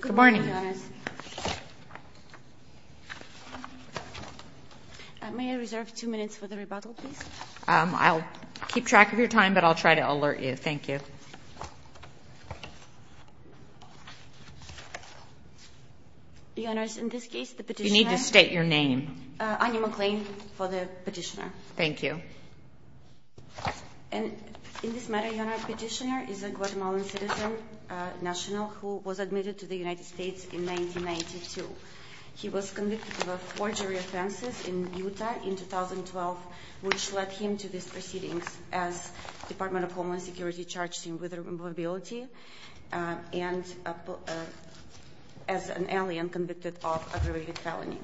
Good morning, Your Honors. May I reserve two minutes for the rebuttal, please? I'll keep track of your time, but I'll try to alert you. Thank you. Your Honors, in this case, the petitioner— You need to state your name. Anya McLean, for the petitioner. Thank you. In this matter, Your Honor, the petitioner is a Guatemalan citizen, national, who was admitted to the United States in 1992. He was convicted of four jury offenses in Utah in 2012, which led him to these proceedings as Department of Homeland Security charged him with vulnerability and as an alien convicted of aggravated felony.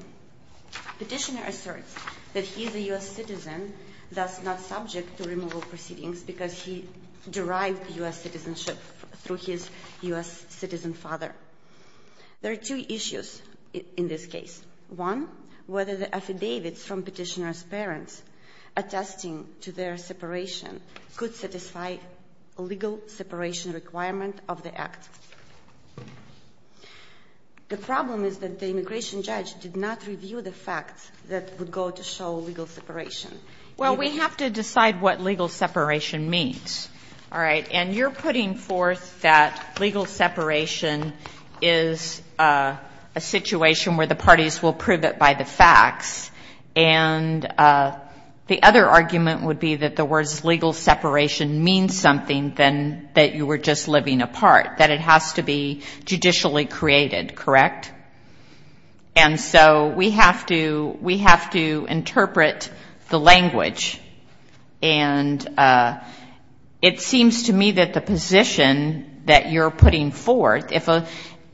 The petitioner asserts that he is a U.S. citizen, thus not subject to removal proceedings because he derived U.S. citizenship through his U.S. citizen father. There are two issues in this case. One, whether the affidavits from petitioner's parents attesting to their separation could satisfy a legal separation requirement of the act. The problem is that the immigration judge did not review the facts that would go to show legal separation. Well, we have to decide what legal separation means, all right? And you're putting forth that legal separation is a situation where the parties will prove it by the facts. And the other argument would be that the words legal separation means something than that you were just living apart, that it has to be judicially created, correct? And so we have to interpret the language. And it seems to me that the position that you're putting forth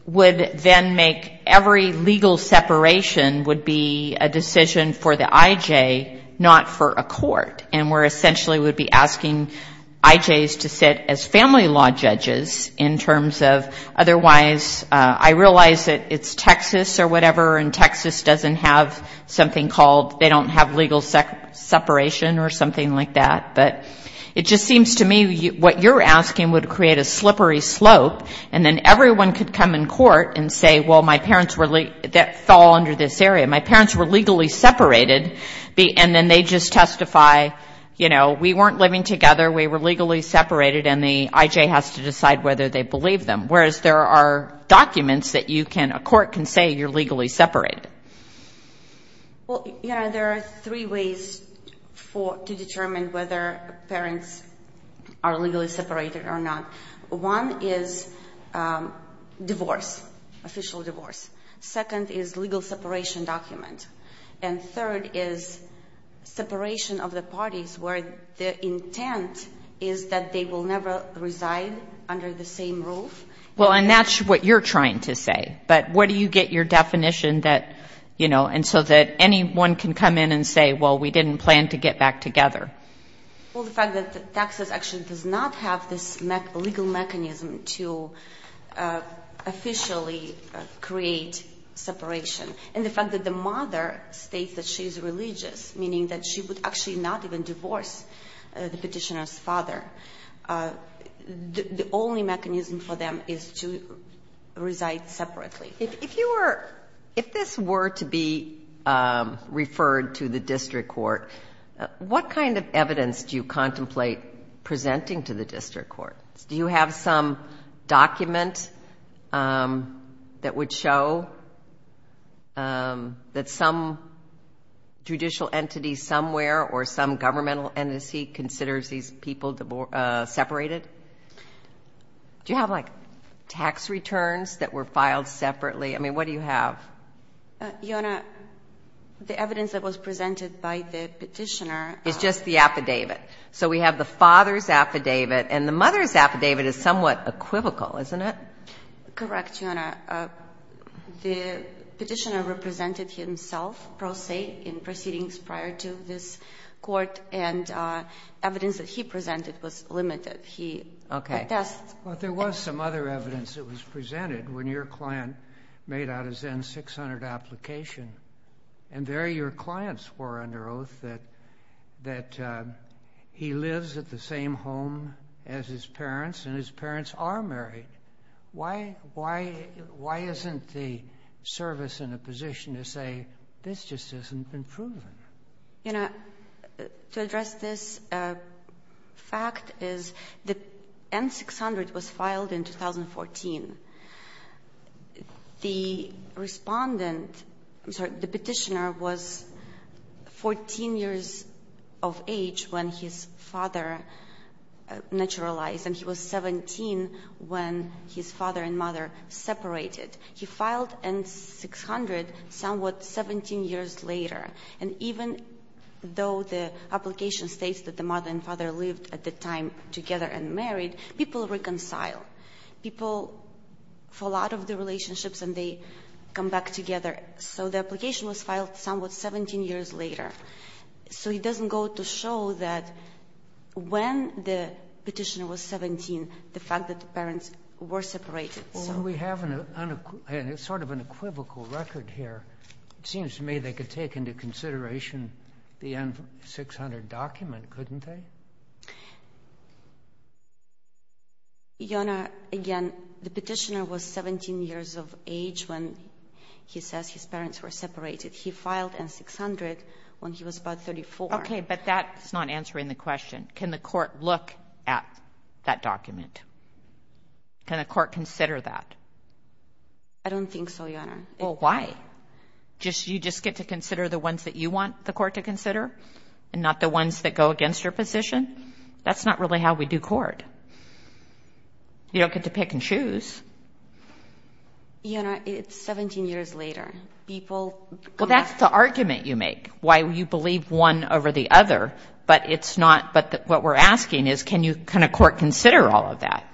would then make every legal separation would be a decision for the IJ, not for a court. And we're essentially would be asking IJs to sit as family law judges in terms of otherwise, I realize that it's Texas or whatever, and Texas doesn't have something called, they don't have legal separation. But it just seems to me what you're asking would create a slippery slope, and then everyone could come in court and say, well, my parents fell under this area. My parents were legally separated, and then they just testify, you know, we weren't living together, we were legally separated, and the IJ has to decide whether they believe them. Whereas there are documents that you can, a court can say you're legally separated. Well, you know, there are three ways to determine whether parents are legally separated or not. One is divorce, official divorce. Second is legal separation document. And third is separation of the parties where the intent is that they will never reside under the same roof. Well, and that's what you're trying to say, but where do you get your definition that, you know, and so that anyone can come in and say, well, we didn't plan to get back together. Well, the fact that Texas actually does not have this legal mechanism to officially create separation, and the fact that the mother states that she's religious, meaning that she would actually not even divorce the petitioner's father. The only mechanism for them is to reside separately. If you were, if this were to be referred to the district court, what kind of evidence do you contemplate presenting to the district court? Do you have some document that would show that some judicial entity somewhere or some governmental entity considers these people divorced? Separated? Do you have, like, tax returns that were filed separately? I mean, what do you have? Your Honor, the evidence that was presented by the petitioner. It's just the affidavit. So we have the father's affidavit and the mother's affidavit is somewhat equivocal, isn't it? Correct, Your Honor. The petitioner represented himself, pro se, in proceedings prior to this court, and evidence that he presented was separate. Okay. But there was some other evidence that was presented when your client made out his N-600 application. And there your client swore under oath that he lives at the same home as his parents, and his parents are married. Why isn't the service in a position to say, this just hasn't been proven? Your Honor, to address this fact is the N-600 was filed in 2014. The respondent, I'm sorry, the petitioner was 14 years of age when his father naturalized, and he was 17 when his father and mother separated. He filed N-600 somewhat 17 years later. And even though the application states that the mother and father lived at the time together and married, people reconcile. People fall out of the relationships and they come back together. So the application was filed somewhat 17 years later. So it doesn't go to show that when the petitioner was 17, the fact that the parents were separated. Well, we have sort of an equivocal record here. It seems to me they could take into consideration the N-600 document, couldn't they? Your Honor, again, the petitioner was 17 years of age when he says his parents were separated. He filed N-600 when he was about 34. Okay, but that's not answering the question. Can the court look at that document? Can the court consider that? I don't think so, Your Honor. Well, why? You just get to consider the ones that you want the court to consider and not the ones that go against your position? That's not really how we do court. You don't get to pick and choose. Your Honor, it's 17 years later. Well, that's the argument you make, why you believe one over the other. But what we're asking is can a court consider all of that?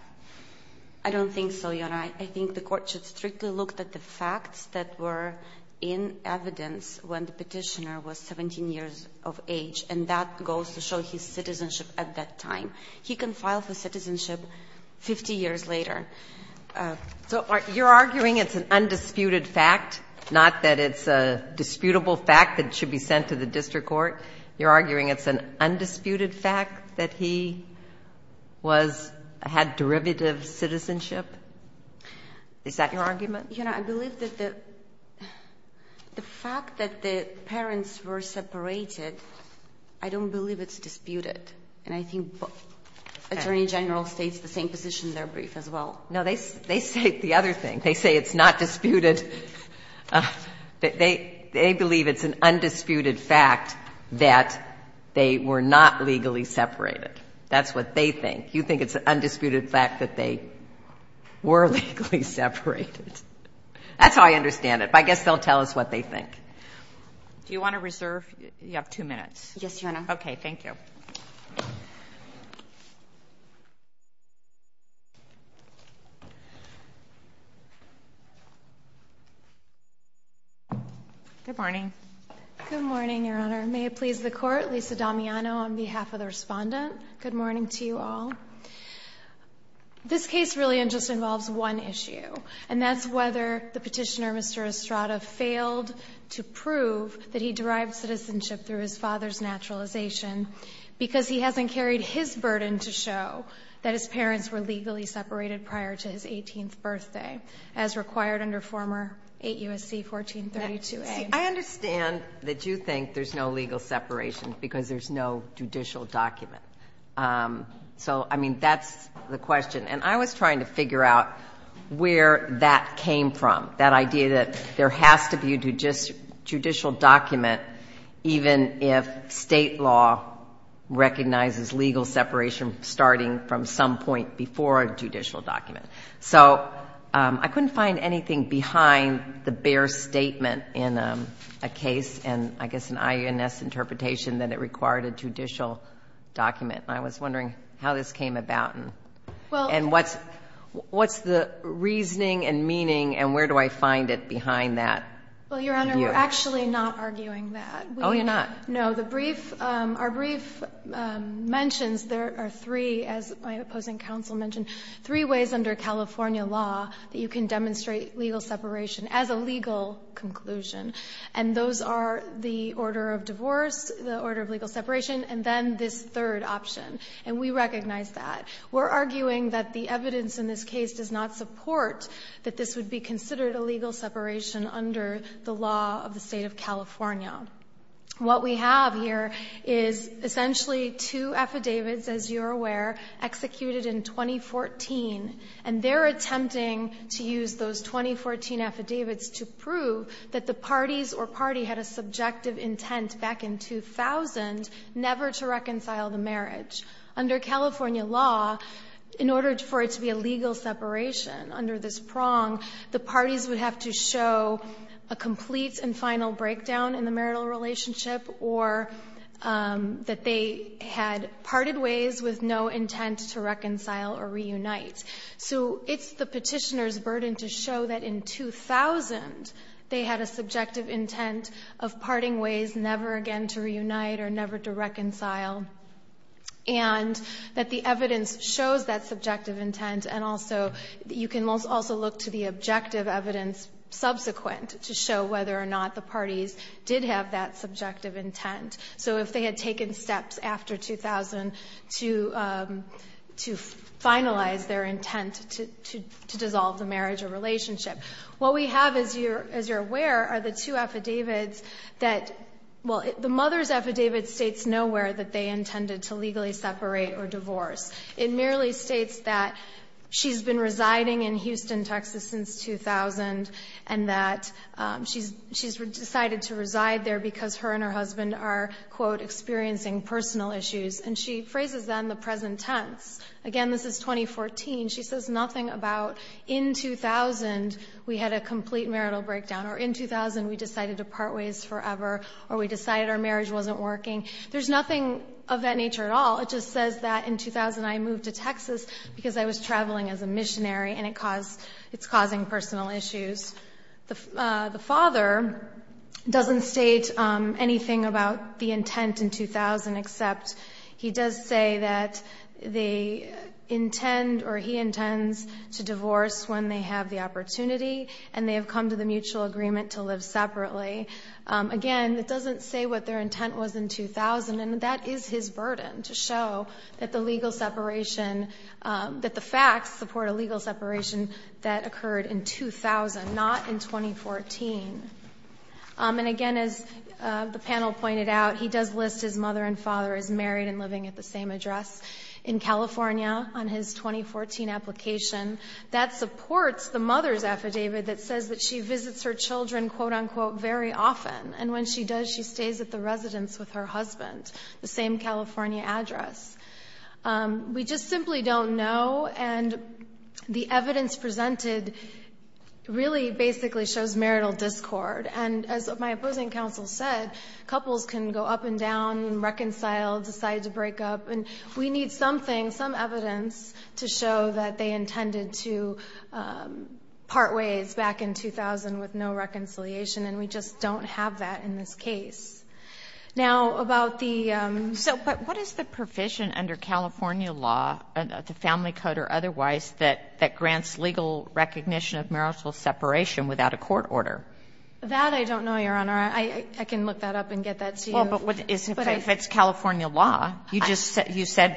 I don't think so, Your Honor. Your Honor, I think the court should strictly look at the facts that were in evidence when the petitioner was 17 years of age, and that goes to show his citizenship at that time. He can file for citizenship 50 years later. So you're arguing it's an undisputed fact, not that it's a disputable fact that it should be sent to the district court? You're arguing it's an undisputed fact that he had derivative citizenship? Is that your argument? Your Honor, I believe that the fact that the parents were separated, I don't believe it's disputed. And I think Attorney General states the same position in their brief as well. No, they say the other thing. They say it's not disputed. They believe it's an undisputed fact that they were not legally separated. That's what they think. You think it's an undisputed fact that they were legally separated. That's how I understand it. But I guess they'll tell us what they think. Do you want to reserve? You have two minutes. Yes, Your Honor. Good morning. Good morning, Your Honor. May it please the Court, Lisa Damiano on behalf of the Respondent. Good morning to you all. This case really just involves one issue, and that's whether the Petitioner, Mr. Estrada, failed to prove that he derived citizenship through his father's naturalization because he hasn't carried his burden to show that his parents were legally separated prior to his 18th birthday, as required under former 8 U.S.C. 1432a. See, I understand that you think there's no legal separation because there's no judicial document. That's the question, and I was trying to figure out where that came from, that idea that there has to be a judicial document even if state law recognizes legal separation starting from some point before a judicial document. So I couldn't find anything behind the bare statement in a case, and I guess an INS interpretation that it required a judicial document, and I was wondering how this came about and what's the reasoning and meaning and where do I find it behind that? Well, Your Honor, we're actually not arguing that. Oh, you're not? No. Our brief mentions there are three, as my opposing counsel mentioned, three ways under California law that you can demonstrate legal separation as a legal conclusion, and those are the order of divorce, the order of legal separation, and then this third option, and we recognize that. We're arguing that the evidence in this case does not support that this would be considered a legal separation under the law of the State of California. What we have here is essentially two affidavits, as you're aware, executed in 2014, and they're attempting to use those 2014 affidavits to prove that the parties or party had a subjective intent back in 2000 never to reconcile the marriage. Under California law, in order for it to be a legal separation under this prong, the parties would have to show a complete and final breakdown in the marital relationship or that they had parted ways with no intent to reconcile or reunite. So it's the petitioner's burden to show that in 2000 they had a subjective intent of parting ways never again to reunite or never to reconcile and that the evidence shows that subjective intent, and also you can also look to the objective evidence subsequent to show whether or not the parties did have that subjective intent. So if they had taken steps after 2000 to finalize their intent to dissolve the marriage or relationship. What we have, as you're aware, are the two affidavits that, well, the mother's decision to separate or divorce. It merely states that she's been residing in Houston, Texas, since 2000, and that she's decided to reside there because her and her husband are, quote, experiencing personal issues. And she phrases that in the present tense. Again, this is 2014. She says nothing about in 2000 we had a complete marital breakdown or in 2000 we decided our marriage wasn't working. There's nothing of that nature at all. It just says that in 2000 I moved to Texas because I was traveling as a missionary and it's causing personal issues. The father doesn't state anything about the intent in 2000, except he does say that they intend or he intends to divorce when they have the opportunity and they have come to the mutual agreement to live separately. Again, it doesn't say what their intent was in 2000, and that is his burden to show that the legal separation, that the facts support a legal separation that occurred in 2000, not in 2014. And again, as the panel pointed out, he does list his mother and father as married and living at the same address in California on his 2014 application. That supports the mother's affidavit that says that she visits her children, quote-unquote, very often. And when she does, she stays at the residence with her husband, the same California address. We just simply don't know, and the evidence presented really basically shows marital discord. And as my opposing counsel said, couples can go up and down and reconcile, decide to break up. And we need something, some evidence to show that they intended to part ways back in 2000 with no reconciliation, and we just don't have that in this case. Now, about the ‑‑ But what is the provision under California law, the family code or otherwise, that grants legal recognition of marital separation without a court order? That I don't know, Your Honor. I can look that up and get that to you. But if it's California law, you just said ‑‑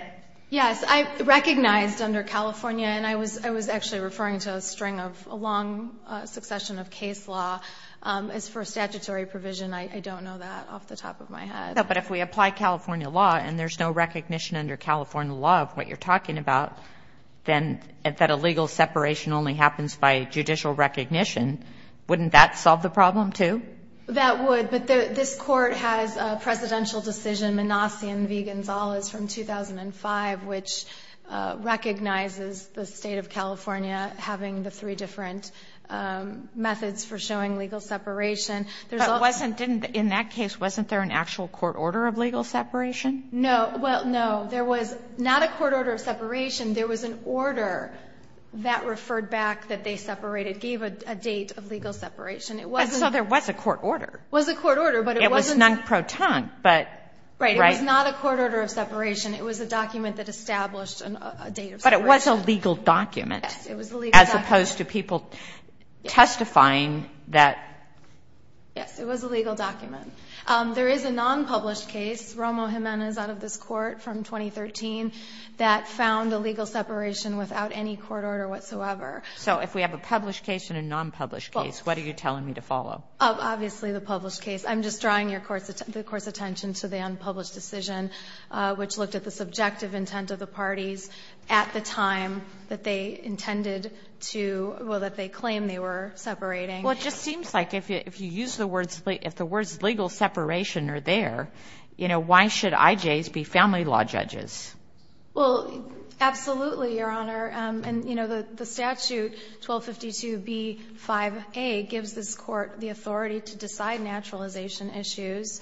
Yes. I recognized under California, and I was actually referring to a string of a long succession of case law. As for statutory provision, I don't know that off the top of my head. No, but if we apply California law and there's no recognition under California law of what you're talking about, then if that illegal separation only happens by judicial recognition, wouldn't that solve the problem, too? That would. But this court has a presidential decision, Manassian v. Gonzalez from 2005, which recognizes the State of California having the three different methods for showing legal separation. But in that case, wasn't there an actual court order of legal separation? No. Well, no. There was not a court order of separation. There was an order that referred back that they separated, gave a date of legal separation. It was not a court order of separation. It was a document that established a date of separation. But it was a legal document. Yes, it was a legal document. As opposed to people testifying that ‑‑ Yes. It was a legal document. There is a nonpublished case, Romo Jimenez out of this court from 2013, that found illegal separation without any court order whatsoever. So if we have a published case and a nonpublished case, what are you telling me to follow? Obviously the published case. I'm just drawing the Court's attention to the unpublished decision, which looked at the subjective intent of the parties at the time that they intended to ‑‑ well, that they claimed they were separating. Well, it just seems like if you use the words ‑‑ if the words legal separation are there, you know, why should IJs be family law judges? Well, absolutely, Your Honor. And, you know, the statute 1252B5A gives this court the authority to decide naturalization issues,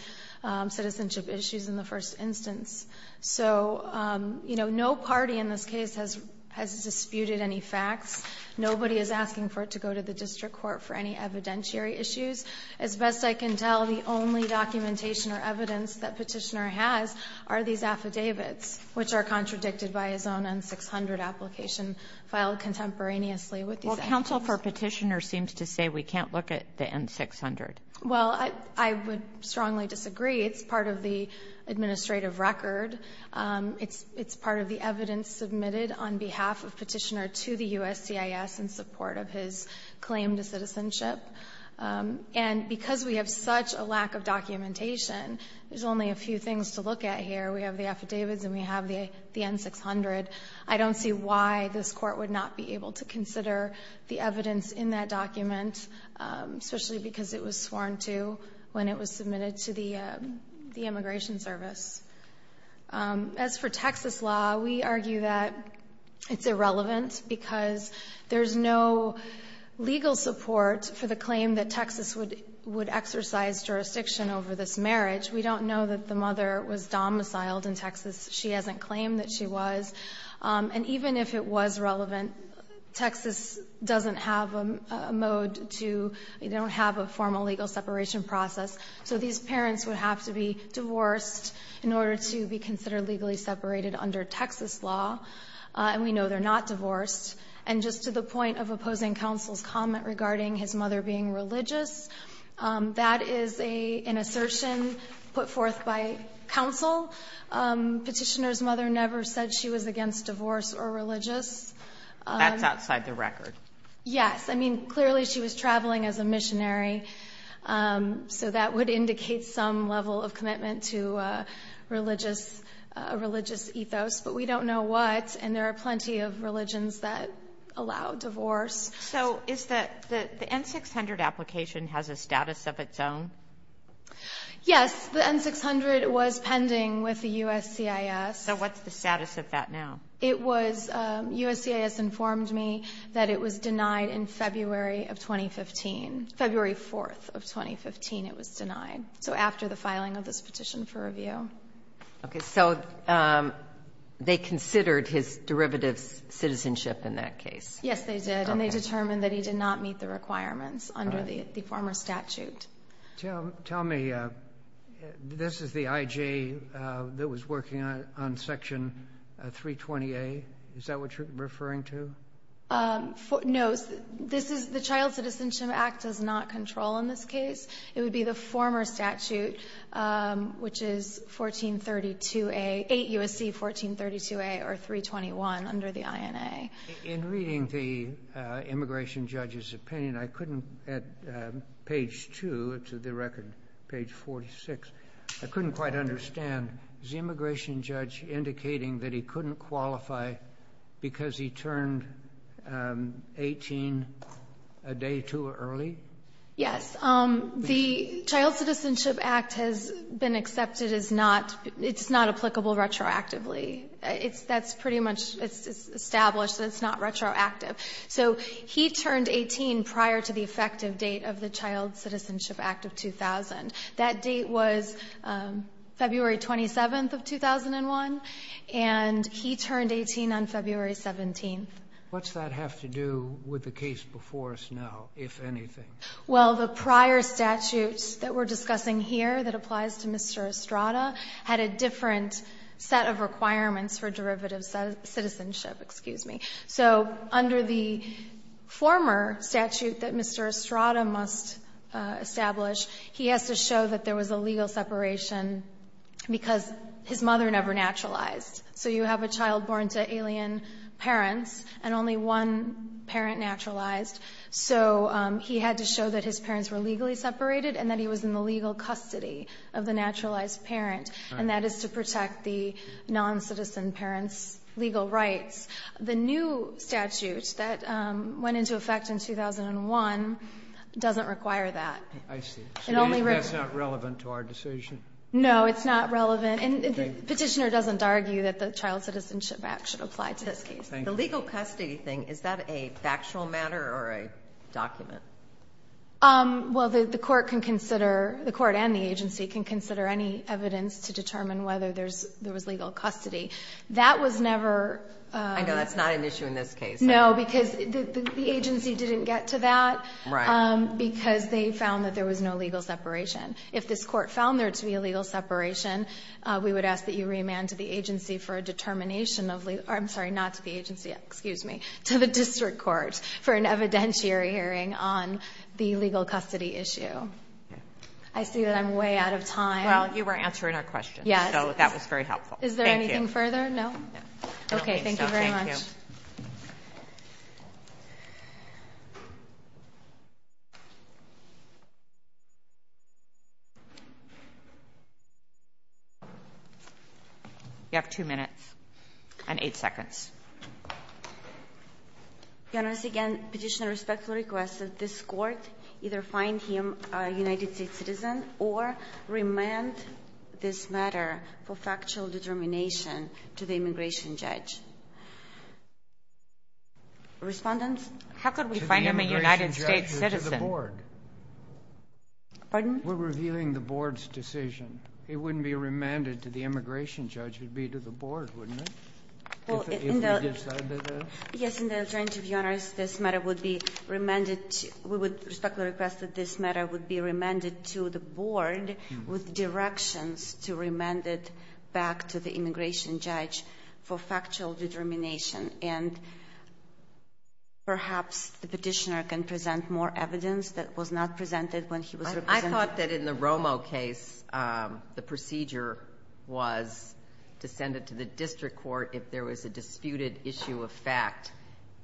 citizenship issues, in the first instance. So, you know, no party in this case has disputed any facts. Nobody is asking for it to go to the district court for any evidentiary issues. As best I can tell, the only documentation or evidence that Petitioner has are these affidavits, which are contradicted by his own N-600 application filed contemporaneously with these actions. Well, counsel for Petitioner seems to say we can't look at the N-600. Well, I would strongly disagree. It's part of the administrative record. It's part of the evidence submitted on behalf of Petitioner to the USCIS in support of his claim to citizenship. And because we have such a lack of documentation, there's only a few things to look at here. We have the affidavits and we have the N-600. I don't see why this court would not be able to consider the evidence in that document, especially because it was sworn to when it was submitted to the Immigration Service. As for Texas law, we argue that it's irrelevant because there's no legal support for the claim that Texas would exercise jurisdiction over this marriage. We don't know that the mother was domiciled in Texas. She hasn't claimed that she was. And even if it was relevant, Texas doesn't have a mode to – they don't have a formal legal separation process, so these parents would have to be divorced in order to be considered legally separated under Texas law. And we know they're not divorced. And just to the point of opposing counsel's comment regarding his mother being put forth by counsel, Petitioner's mother never said she was against divorce or religious. That's outside the record. Yes. I mean, clearly she was traveling as a missionary, so that would indicate some level of commitment to a religious ethos. But we don't know what, and there are plenty of religions that allow divorce. So is the N-600 application has a status of its own? Yes. The N-600 was pending with the USCIS. So what's the status of that now? It was – USCIS informed me that it was denied in February of 2015. February 4th of 2015 it was denied. So after the filing of this petition for review. Okay. So they considered his derivative citizenship in that case. Yes, they did. And they determined that he did not meet the requirements under the former statute. Tell me, this is the IJ that was working on Section 320A? Is that what you're referring to? No, this is – the Child Citizenship Act does not control in this case. It would be the former statute, which is 1432A – 8 U.S.C. 1432A or 321 under the INA. In reading the immigration judge's opinion, I couldn't – at page 2 to the record, page 46, I couldn't quite understand. Is the immigration judge indicating that he couldn't qualify because he turned 18 a day too early? Yes. The Child Citizenship Act has been accepted as not – it's not applicable retroactively. It's – that's pretty much – it's established that it's not retroactive. So he turned 18 prior to the effective date of the Child Citizenship Act of 2000. That date was February 27th of 2001, and he turned 18 on February 17th. What's that have to do with the case before us now, if anything? Well, the prior statutes that we're discussing here that applies to Mr. Estrada had a different set of requirements for derivative citizenship. Excuse me. So under the former statute that Mr. Estrada must establish, he has to show that there was a legal separation because his mother never naturalized. So you have a child born to alien parents, and only one parent naturalized. So he had to show that his parents were legally separated and that he was in the legal custody of the naturalized parent, and that is to protect the noncitizen parents' legal rights. The new statute that went into effect in 2001 doesn't require that. I see. So that's not relevant to our decision? No, it's not relevant. Petitioner doesn't argue that the Child Citizenship Act should apply to this case. The legal custody thing, is that a factual matter or a document? Well, the court and the agency can consider any evidence to determine whether there was legal custody. I know that's not an issue in this case. No, because the agency didn't get to that because they found that there was no legal separation. If this court found there to be a legal separation, we would ask that you remand to the agency for a determination of legal custody. I'm sorry, not to the agency, excuse me, to the district court for an evidentiary hearing on the legal custody issue. I see that I'm way out of time. Well, you were answering our questions. Yes. So that was very helpful. Thank you. Is there anything further? No? Okay, thank you very much. Thank you. You have two minutes and eight seconds. Your Honor, once again, Petitioner respectfully requests that this court either find him a United States citizen or remand this matter for factual determination to the immigration judge. Respondents? How could we find him a United States citizen? To the immigration judge or to the board? Pardon? We're revealing the board's decision. It wouldn't be remanded to the immigration judge. It would be to the board, wouldn't it, if we decided that? Yes. In the alternative, Your Honor, this matter would be remanded... We would respectfully request that this matter would be remanded to the board with directions to remand it back to the immigration judge for factual determination. And perhaps the Petitioner can present more evidence that was not presented when he was representing... The procedure was to send it to the district court if there was a disputed issue of fact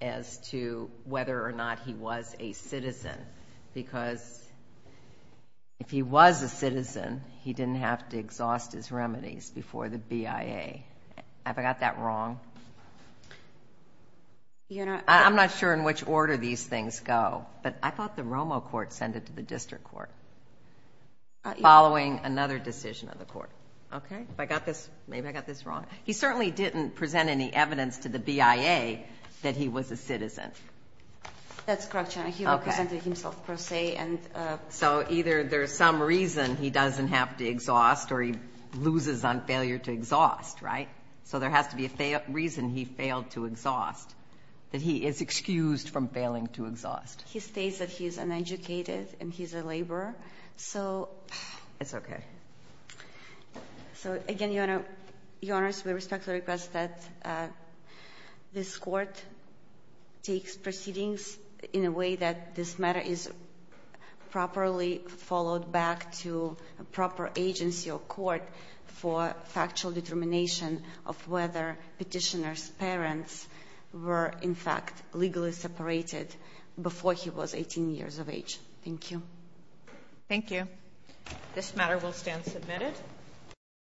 as to whether or not he was a citizen because if he was a citizen, he didn't have to exhaust his remedies before the BIA. Have I got that wrong? I'm not sure in which order these things go, but I thought the Romo court sent it to the district court following another decision of the court. Okay? Have I got this? Maybe I got this wrong. He certainly didn't present any evidence to the BIA that he was a citizen. That's correct, Your Honor. He represented himself per se. So either there's some reason he doesn't have to exhaust or he loses on failure to exhaust, right? So there has to be a reason he failed to exhaust, that he is excused from failing to exhaust. He states that he's uneducated and he's a laborer. So... It's okay. So, again, Your Honor, we respectfully request that this court takes proceedings in a way that this matter is properly followed back to a proper agency or court for factual determination of whether petitioner's parents were, in fact, legally separated before he was 18 years of age. Thank you. Thank you. This matter will stand submitted.